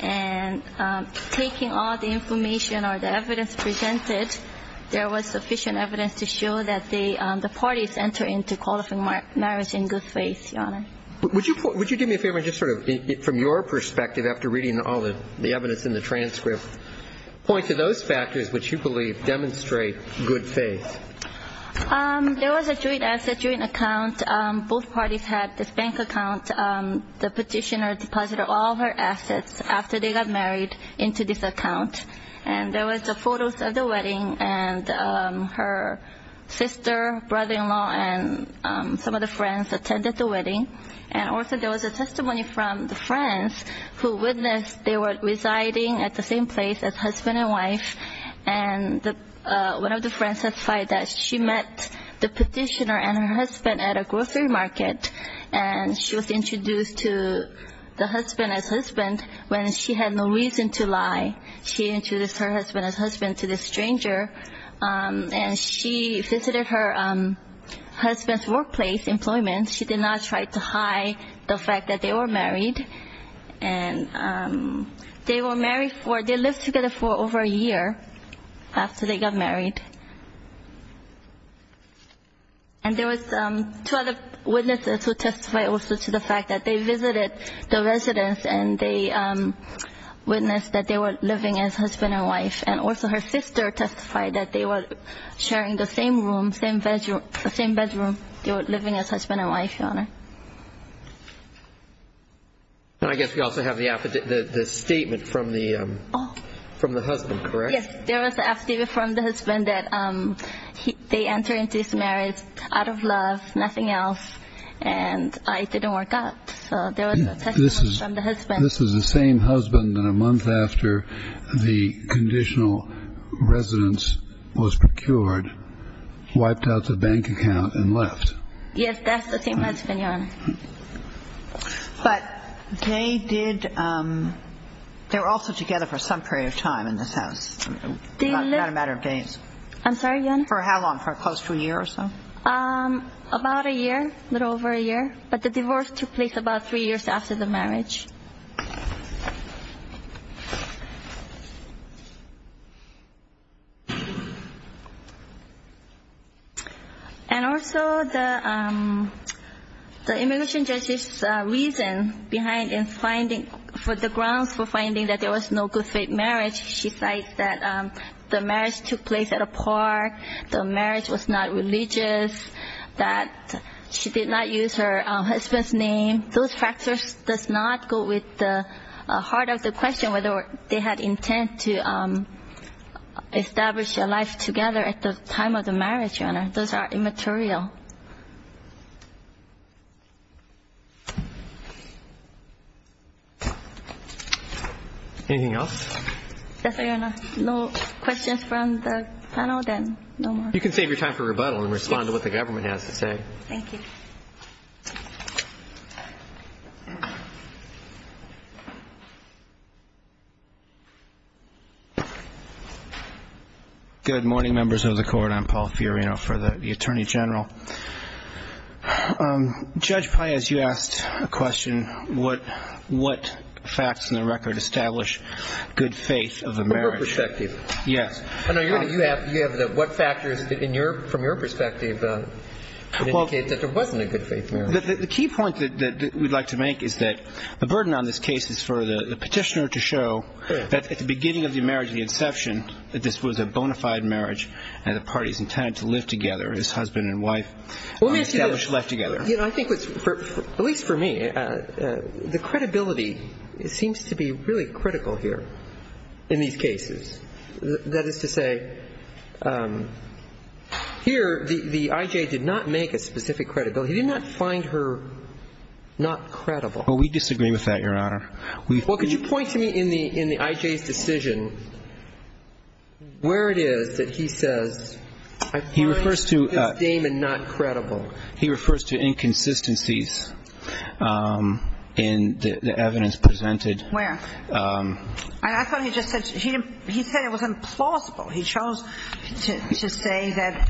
and taking all the information or the evidence presented, there was sufficient evidence to show that the parties enter into qualifying marriage in good faith, Your Honor. Would you do me a favor and just sort of, from your perspective, after reading all the evidence in the transcript, point to those factors which you believe demonstrate good faith. There was a joint asset, joint account. Both parties had this bank account. The petitioner deposited all her assets after they got married into this account. And there was photos of the wedding, and her sister, brother-in-law, and some of the friends attended the wedding. And also there was a testimony from the friends who witnessed they were residing at the same place as husband and wife. And one of the friends testified that she met the petitioner and her husband at a grocery market, and she was introduced to the husband as husband when she had no reason to lie. She introduced her husband as husband to this stranger, and she visited her husband's workplace employment. She did not try to hide the fact that they were married, and they were married for, they lived together for over a year after they got married. And there was two other witnesses who testified also to the fact that they visited the residence, and they witnessed that they were living as husband and wife. And also her sister testified that they were sharing the same room, same bedroom. They were living as husband and wife, Your Honor. And I guess we also have the statement from the husband, correct? Yes, there was a statement from the husband that they entered into his marriage out of love, nothing else, and it didn't work out. So there was a testimony from the husband. This is the same husband that a month after the conditional residence was procured, wiped out the bank account and left. Yes, that's the same husband, Your Honor. But they did, they were also together for some period of time in this house, not a matter of days. I'm sorry, Your Honor? For how long, for close to a year or so? About a year, a little over a year, but the divorce took place about three years after the marriage. And also the immigration judge's reason behind in finding, for the grounds for finding that there was no good-faith marriage, she cites that the marriage took place at a park, the marriage was not religious, that she did not use her husband's name. Those factors does not go with the case. That's the heart of the question, whether they had intent to establish a life together at the time of the marriage, Your Honor. Those are immaterial. Anything else? That's all, Your Honor. No questions from the panel, then no more. You can save your time for rebuttal and respond to what the government has to say. Thank you. Good morning, members of the Court. I'm Paul Fiorino for the Attorney General. Judge Paez, you asked a question, what facts in the record establish good faith of a marriage? From your perspective. Yes. You have what factors from your perspective indicate that there wasn't a good-faith marriage. The key point that we'd like to make is that the burden on this case is for the petitioner to show that at the beginning of the marriage, the inception, that this was a bona fide marriage and the parties intended to live together, his husband and wife, established life together. I think, at least for me, the credibility seems to be really critical here in these cases. That is to say, here the I.J. did not make a specific credibility. He did not find her not credible. Well, we disagree with that, Your Honor. Well, could you point to me in the I.J.'s decision where it is that he says, I find this Damon not credible. He refers to inconsistencies in the evidence presented. Where? I thought he just said it was implausible. He chose to say that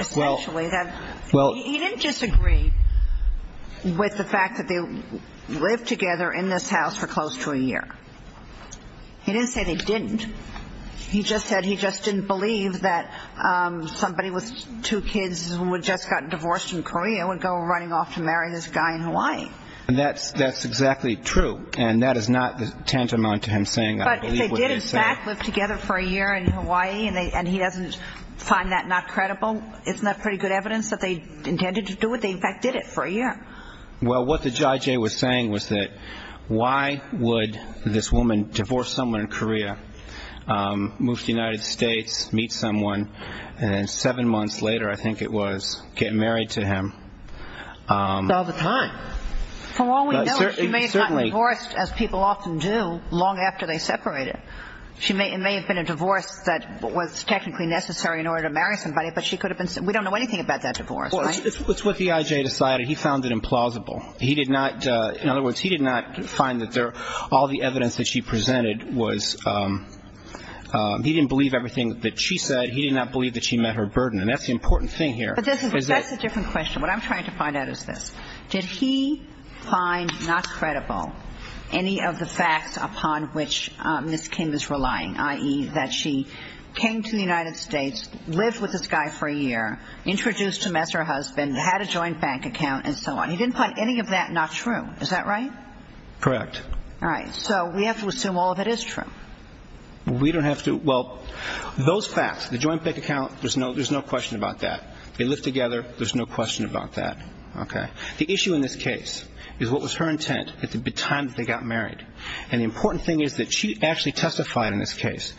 essentially that he didn't disagree with the fact that they lived together in this house for close to a year. He didn't say they didn't. He just said he just didn't believe that somebody with two kids who had just gotten divorced in Korea would go running off to marry this guy in Hawaii. That's exactly true, and that is not tantamount to him saying that. But they did, in fact, live together for a year in Hawaii, and he doesn't find that not credible. Isn't that pretty good evidence that they intended to do it? They, in fact, did it for a year. Well, what the I.J. was saying was that why would this woman divorce someone in Korea, move to the United States, meet someone, and then seven months later, I think it was, get married to him. All the time. For all we know, she may have gotten divorced, as people often do, long after they separated. It may have been a divorce that was technically necessary in order to marry somebody, but we don't know anything about that divorce, right? It's what the I.J. decided. He found it implausible. He did not, in other words, he did not find that all the evidence that she presented was, he didn't believe everything that she said. He did not believe that she met her burden, and that's the important thing here. But that's a different question. What I'm trying to find out is this. Did he find not credible any of the facts upon which Ms. Kim is relying, i.e., that she came to the United States, lived with this guy for a year, introduced him as her husband, had a joint bank account, and so on? He didn't find any of that not true. Is that right? Correct. All right. So we have to assume all of it is true. We don't have to. Well, those facts, the joint bank account, there's no question about that. They lived together. There's no question about that. Okay. The issue in this case is what was her intent at the time that they got married, and the important thing is that she actually testified in this case,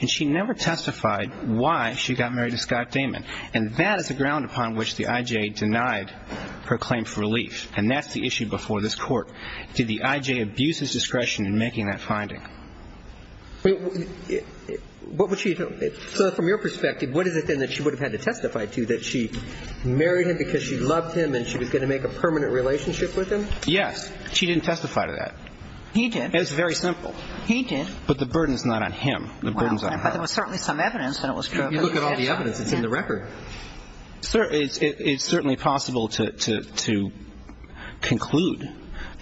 and she never testified why she got married to Scott Damon, and that is the ground upon which the I.J. denied her claim for relief, and that's the issue before this court. Did the I.J. abuse his discretion in making that finding? So from your perspective, what is it then that she would have had to testify to, that she married him because she loved him and she was going to make a permanent relationship with him? Yes. She didn't testify to that. He did. It's very simple. He did. But the burden is not on him. The burden is on her. But there was certainly some evidence that it was true. If you look at all the evidence, it's in the record. It's certainly possible to conclude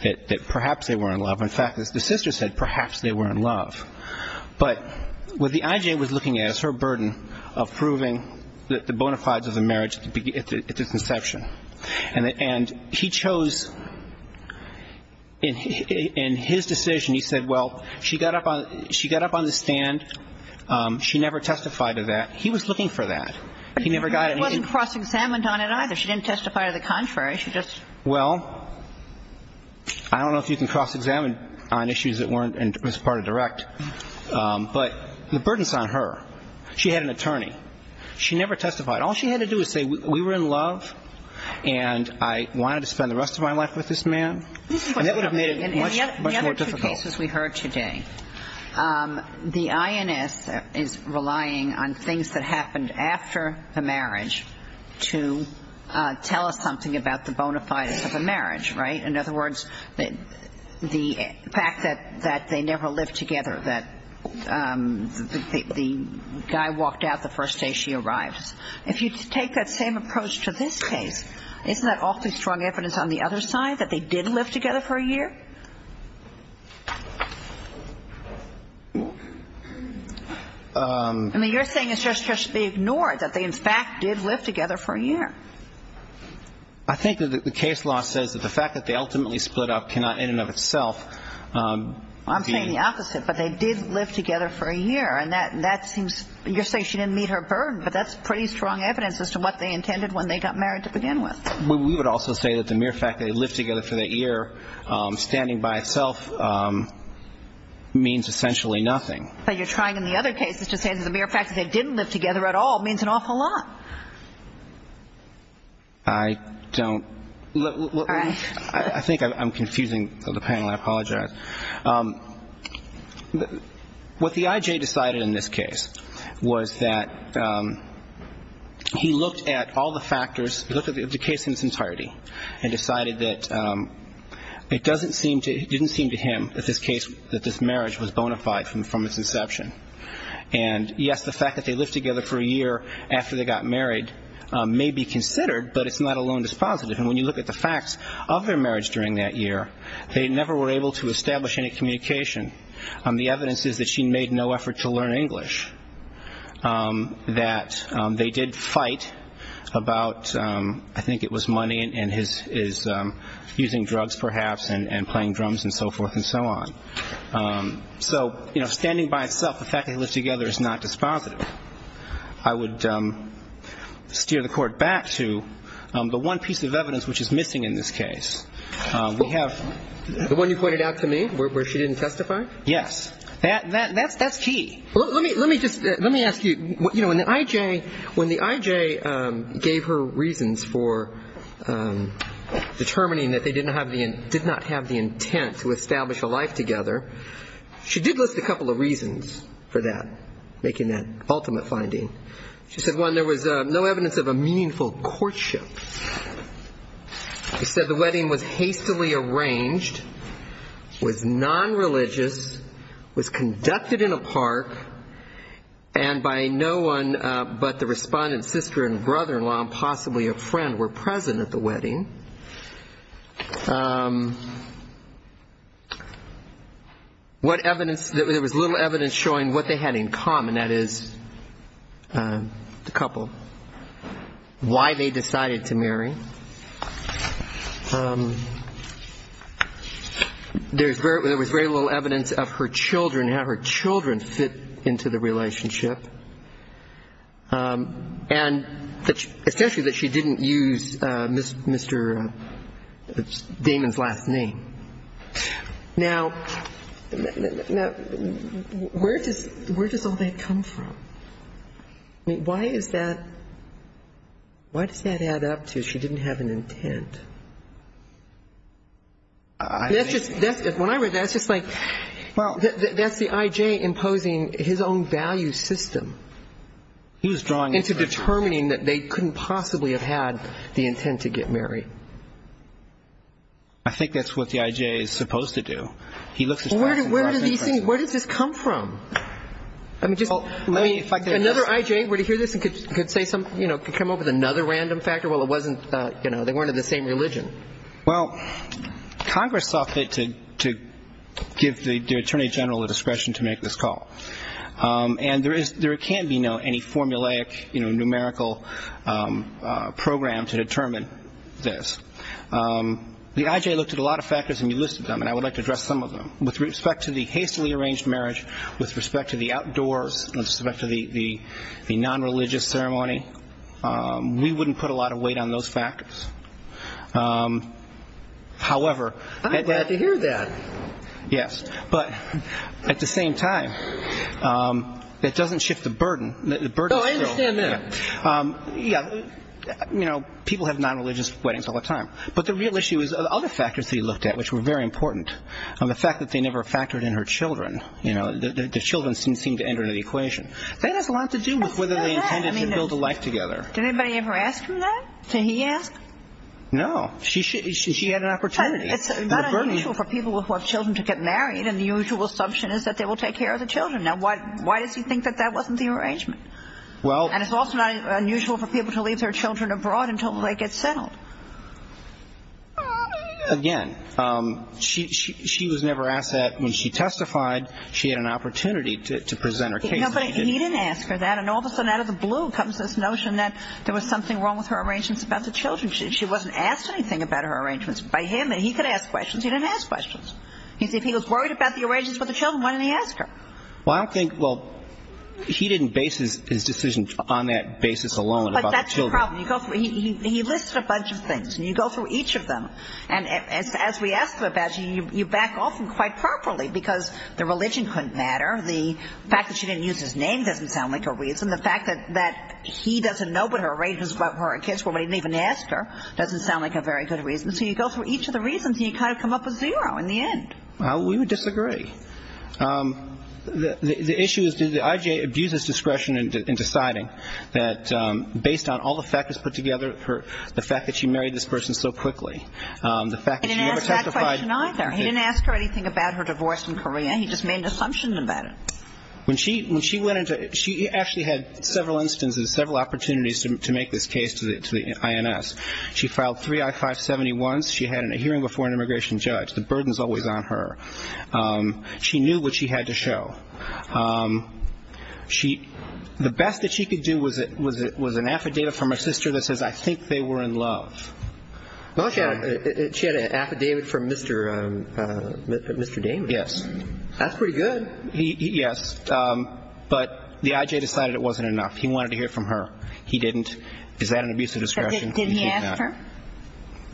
that perhaps they were in love. In fact, the sister said perhaps they were in love. But what the I.J. was looking at is her burden of proving the bona fides of the marriage at its inception, and he chose in his decision, he said, well, she got up on the stand, she never testified to that. He was looking for that. He never got it. He wasn't cross-examined on it either. She didn't testify to the contrary. She just. Well, I don't know if you can cross-examine on issues that weren't as part of direct. But the burden is on her. She had an attorney. She never testified. All she had to do was say we were in love and I wanted to spend the rest of my life with this man. And that would have made it much more difficult. The other two cases we heard today, the INS is relying on things that happened after the marriage to tell us something about the bona fides of the marriage, right? In other words, the fact that they never lived together, that the guy walked out the first day she arrives. If you take that same approach to this case, isn't that awfully strong evidence on the other side that they did live together for a year? I mean, you're saying it's just to be ignored, that they, in fact, did live together for a year. I think that the case law says that the fact that they ultimately split up cannot in and of itself be. I'm saying the opposite. But they did live together for a year. And that seems, you're saying she didn't meet her burden. But that's pretty strong evidence as to what they intended when they got married to begin with. We would also say that the mere fact that they lived together for that year standing by itself means essentially nothing. But you're trying in the other cases to say that the mere fact that they didn't live together at all means an awful lot. I don't. I think I'm confusing the panel. I apologize. What the I.J. decided in this case was that he looked at all the factors, looked at the case in its entirety, and decided that it didn't seem to him, in this case, that this marriage was bona fide from its inception. And, yes, the fact that they lived together for a year after they got married may be considered, but it's not alone that's positive. And when you look at the facts of their marriage during that year, they never were able to establish any communication. The evidence is that she made no effort to learn English, that they did fight about, I think it was money and his using drugs perhaps and playing drums and so forth and so on. So, you know, standing by itself, the fact that they lived together is not dispositive. I would steer the Court back to the one piece of evidence which is missing in this case. We have... The one you pointed out to me where she didn't testify? Yes. That's key. Let me ask you. You know, when the I.J. gave her reasons for determining that they did not have the intent to establish a life together, she did list a couple of reasons for that, making that ultimate finding. She said, one, there was no evidence of a meaningful courtship. She said the wedding was hastily arranged, was nonreligious, was conducted in a park, and by no one but the respondent's sister and brother-in-law and possibly a friend were present at the wedding. What evidence... There was little evidence showing what they had in common, that is, the couple, why they decided to marry. There was very little evidence of her children, how her children fit into the relationship. And especially that she didn't use Mr. Damon's last name. Now, where does all that come from? I mean, why is that, why does that add up to she didn't have an intent? That's just, when I read that, that's just like, that's the I.J. imposing his own value system. He was drawing... Into determining that they couldn't possibly have had the intent to get married. I think that's what the I.J. is supposed to do. He looks at... Where does this come from? I mean, another I.J. were to hear this and could say something, you know, could come up with another random factor, well, it wasn't, you know, they weren't of the same religion. Well, Congress saw fit to give the Attorney General the discretion to make this call. And there is, there can be no, any formulaic, you know, numerical program to determine this. The I.J. looked at a lot of factors, and you listed them, and I would like to address some of them. With respect to the hastily arranged marriage, with respect to the outdoors, with respect to the non-religious ceremony, we wouldn't put a lot of weight on those factors. However... I'm glad to hear that. Yes. But at the same time, it doesn't shift the burden. No, I understand that. Yeah. You know, people have non-religious weddings all the time. But the real issue is other factors that he looked at, which were very important. The fact that they never factored in her children. You know, the children seemed to enter into the equation. That has a lot to do with whether they intended to build a life together. Did anybody ever ask him that? Did he ask? No. She had an opportunity. It's not unusual for people who have children to get married, and the usual assumption is that they will take care of the children. Now, why does he think that that wasn't the arrangement? Well... And it's also not unusual for people to leave their children abroad until they get settled. Again, she was never asked that. When she testified, she had an opportunity to present her case. But he didn't ask her that, and all of a sudden out of the blue comes this notion that there was something wrong with her arrangements about the children. She wasn't asked anything about her arrangements by him, and he could ask questions. He didn't ask questions. If he was worried about the arrangements with the children, why didn't he ask her? Well, I don't think... Well, he didn't base his decision on that basis alone about the children. But that's the problem. He listed a bunch of things, and you go through each of them. And as we asked him about it, you back off him quite properly, because the religion couldn't matter, the fact that she didn't use his name doesn't sound like a reason, and the fact that he doesn't know what her arrangements were, but he didn't even ask her, doesn't sound like a very good reason. So you go through each of the reasons, and you kind of come up with zero in the end. Well, we would disagree. The issue is did the IJA abuse his discretion in deciding that based on all the factors put together, the fact that she married this person so quickly, the fact that she never testified... He didn't ask that question either. He didn't ask her anything about her divorce in Korea. He just made an assumption about it. When she went into it, she actually had several instances, several opportunities to make this case to the INS. She filed three I-571s. She had a hearing before an immigration judge. The burden is always on her. She knew what she had to show. The best that she could do was an affidavit from her sister that says, I think they were in love. She had an affidavit from Mr. Damon. Yes. That's pretty good. Yes. But the IJA decided it wasn't enough. He wanted to hear from her. He didn't. Is that an abuse of discretion? Did he ask her?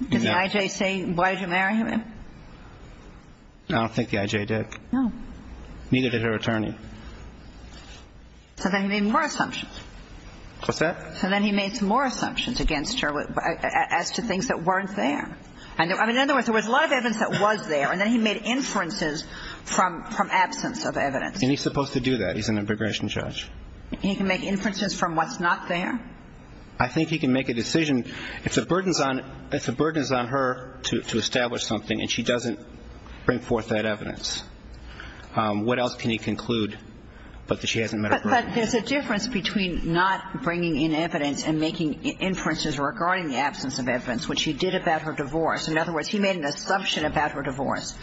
Did the IJA say, why did you marry him? I don't think the IJA did. No. Neither did her attorney. So then he made more assumptions. What's that? So then he made some more assumptions against her as to things that weren't there. I mean, in other words, there was a lot of evidence that was there, and then he made inferences from absence of evidence. And he's supposed to do that. He's an immigration judge. He can make inferences from what's not there? I think he can make a decision. If the burden is on her to establish something and she doesn't bring forth that evidence, what else can he conclude but that she hasn't met her burden? But there's a difference between not bringing in evidence and making inferences regarding the absence of evidence, which he did about her divorce. In other words, he made an assumption about her divorce.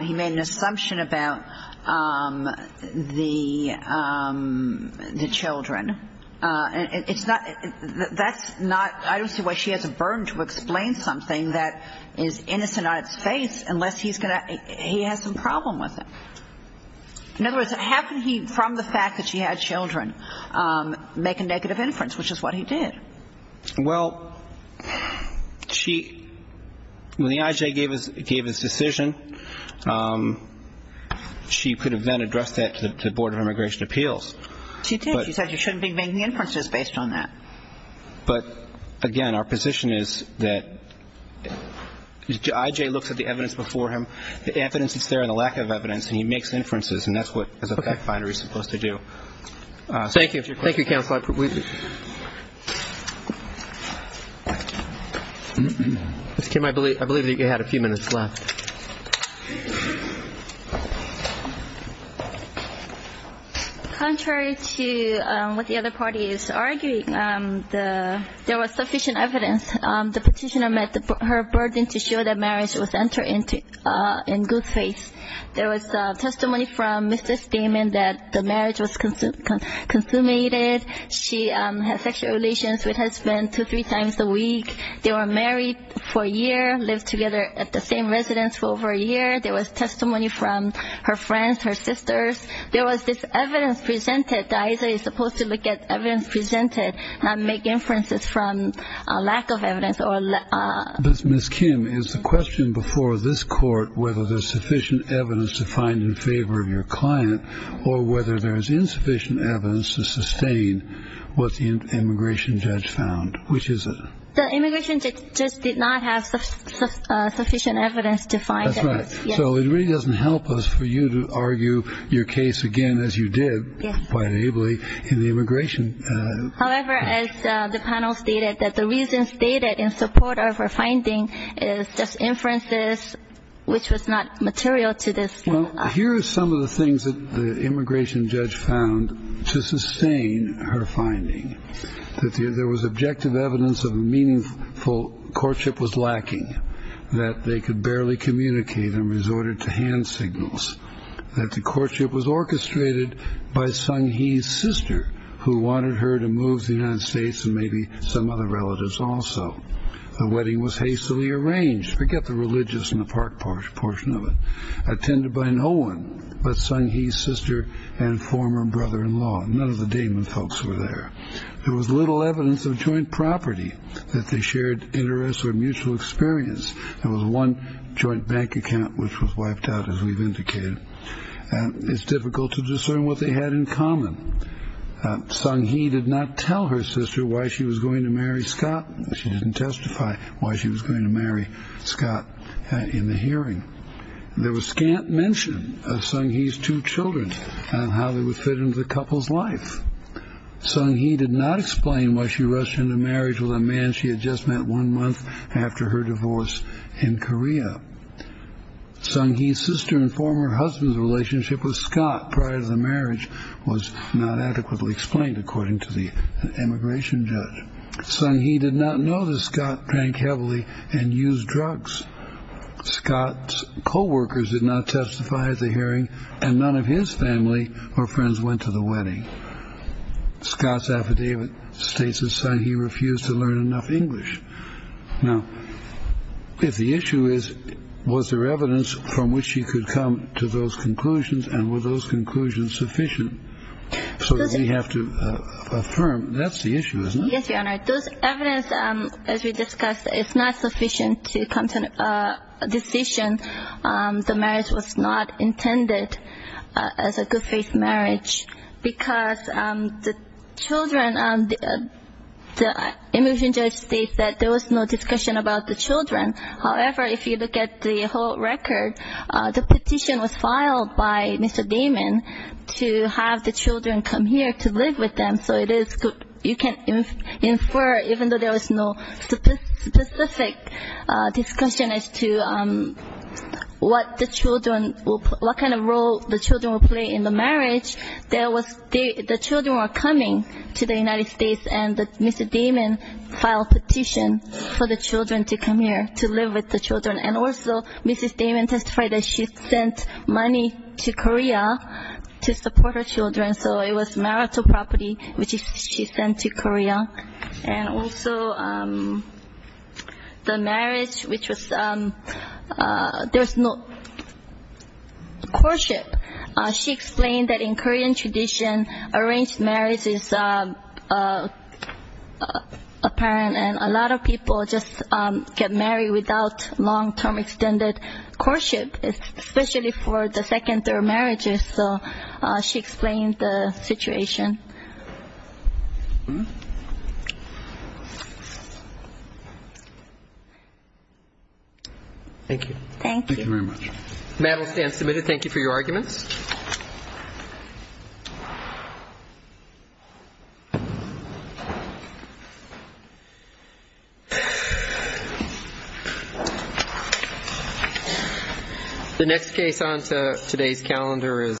He made an assumption about the children. It's not that's not I don't see why she has a burden to explain something that is innocent on its face unless he has some problem with it. In other words, how can he, from the fact that she had children, make a negative inference, which is what he did? Well, when the I.J. gave his decision, she could have then addressed that to the Board of Immigration Appeals. She did. She said you shouldn't be making inferences based on that. But, again, our position is that I.J. looks at the evidence before him, the evidence that's there and the lack of evidence, and he makes inferences, and that's what, as a fact finder, he's supposed to do. Thank you. Thank you, Counsel. Ms. Kim, I believe that you had a few minutes left. Contrary to what the other party is arguing, there was sufficient evidence. The petitioner met her burden to show that marriage was entered into in good faith. There was testimony from Mrs. Damon that the marriage was consummated. She had sexual relations with her husband two, three times a week. They were married for a year, lived together at the same residence for over a year. There was testimony from her friends, her sisters. There was this evidence presented that I.J. is supposed to look at evidence presented and make inferences from lack of evidence. Ms. Kim, is the question before this court whether there's sufficient evidence to find in favor of your client or whether there's insufficient evidence to sustain what the immigration judge found? Which is it? The immigration judge did not have sufficient evidence to find it. That's right. So it really doesn't help us for you to argue your case again, as you did quite ably, in the immigration. However, as the panel stated, that the reason stated in support of her finding is just inferences, which was not material to this. Well, here are some of the things that the immigration judge found to sustain her finding. There was objective evidence of a meaningful courtship was lacking, that they could barely communicate and resorted to hand signals, that the courtship was orchestrated by Sung Hee's sister, who wanted her to move to the United States and maybe some other relatives also. The wedding was hastily arranged. Forget the religious in the park portion of it. Attended by no one but Sung Hee's sister and former brother-in-law. None of the Damon folks were there. There was little evidence of joint property, that they shared interests or mutual experience. There was one joint bank account which was wiped out, as we've indicated. It's difficult to discern what they had in common. Sung Hee did not tell her sister why she was going to marry Scott. She didn't testify why she was going to marry Scott in the hearing. There was scant mention of Sung Hee's two children and how they would fit into the couple's life. Sung Hee did not explain why she rushed into marriage with a man she had just met one month after her divorce in Korea. Sung Hee's sister and former husband's relationship with Scott prior to the marriage was not adequately explained, according to the immigration judge. Sung Hee did not know that Scott drank heavily and used drugs. Scott's co-workers did not testify at the hearing, and none of his family or friends went to the wedding. Scott's affidavit states that Sung Hee refused to learn enough English. Now, if the issue is, was there evidence from which she could come to those conclusions, and were those conclusions sufficient? So we have to affirm, that's the issue, isn't it? Yes, Your Honor. Those evidence, as we discussed, is not sufficient to come to a decision. The marriage was not intended as a good-faith marriage because the children, the immigration judge states that there was no discussion about the children. However, if you look at the whole record, the petition was filed by Mr. Damon to have the children come here to live with them. So it is, you can infer, even though there was no specific discussion as to what the children, what kind of role the children will play in the marriage, the children were coming to the United States, and Mr. Damon filed a petition for the children to come here to live with the children. And also, Mrs. Damon testified that she sent money to Korea to support her children, so it was marital property which she sent to Korea. And also, the marriage, which was, there's no courtship. She explained that in Korean tradition, arranged marriage is apparent, and a lot of people just get married without long-term extended courtship, especially for the second or third marriages. So she explained the situation. Thank you. Thank you. Thank you very much. The mattel stands submitted. Thank you for your arguments. The next case on today's calendar is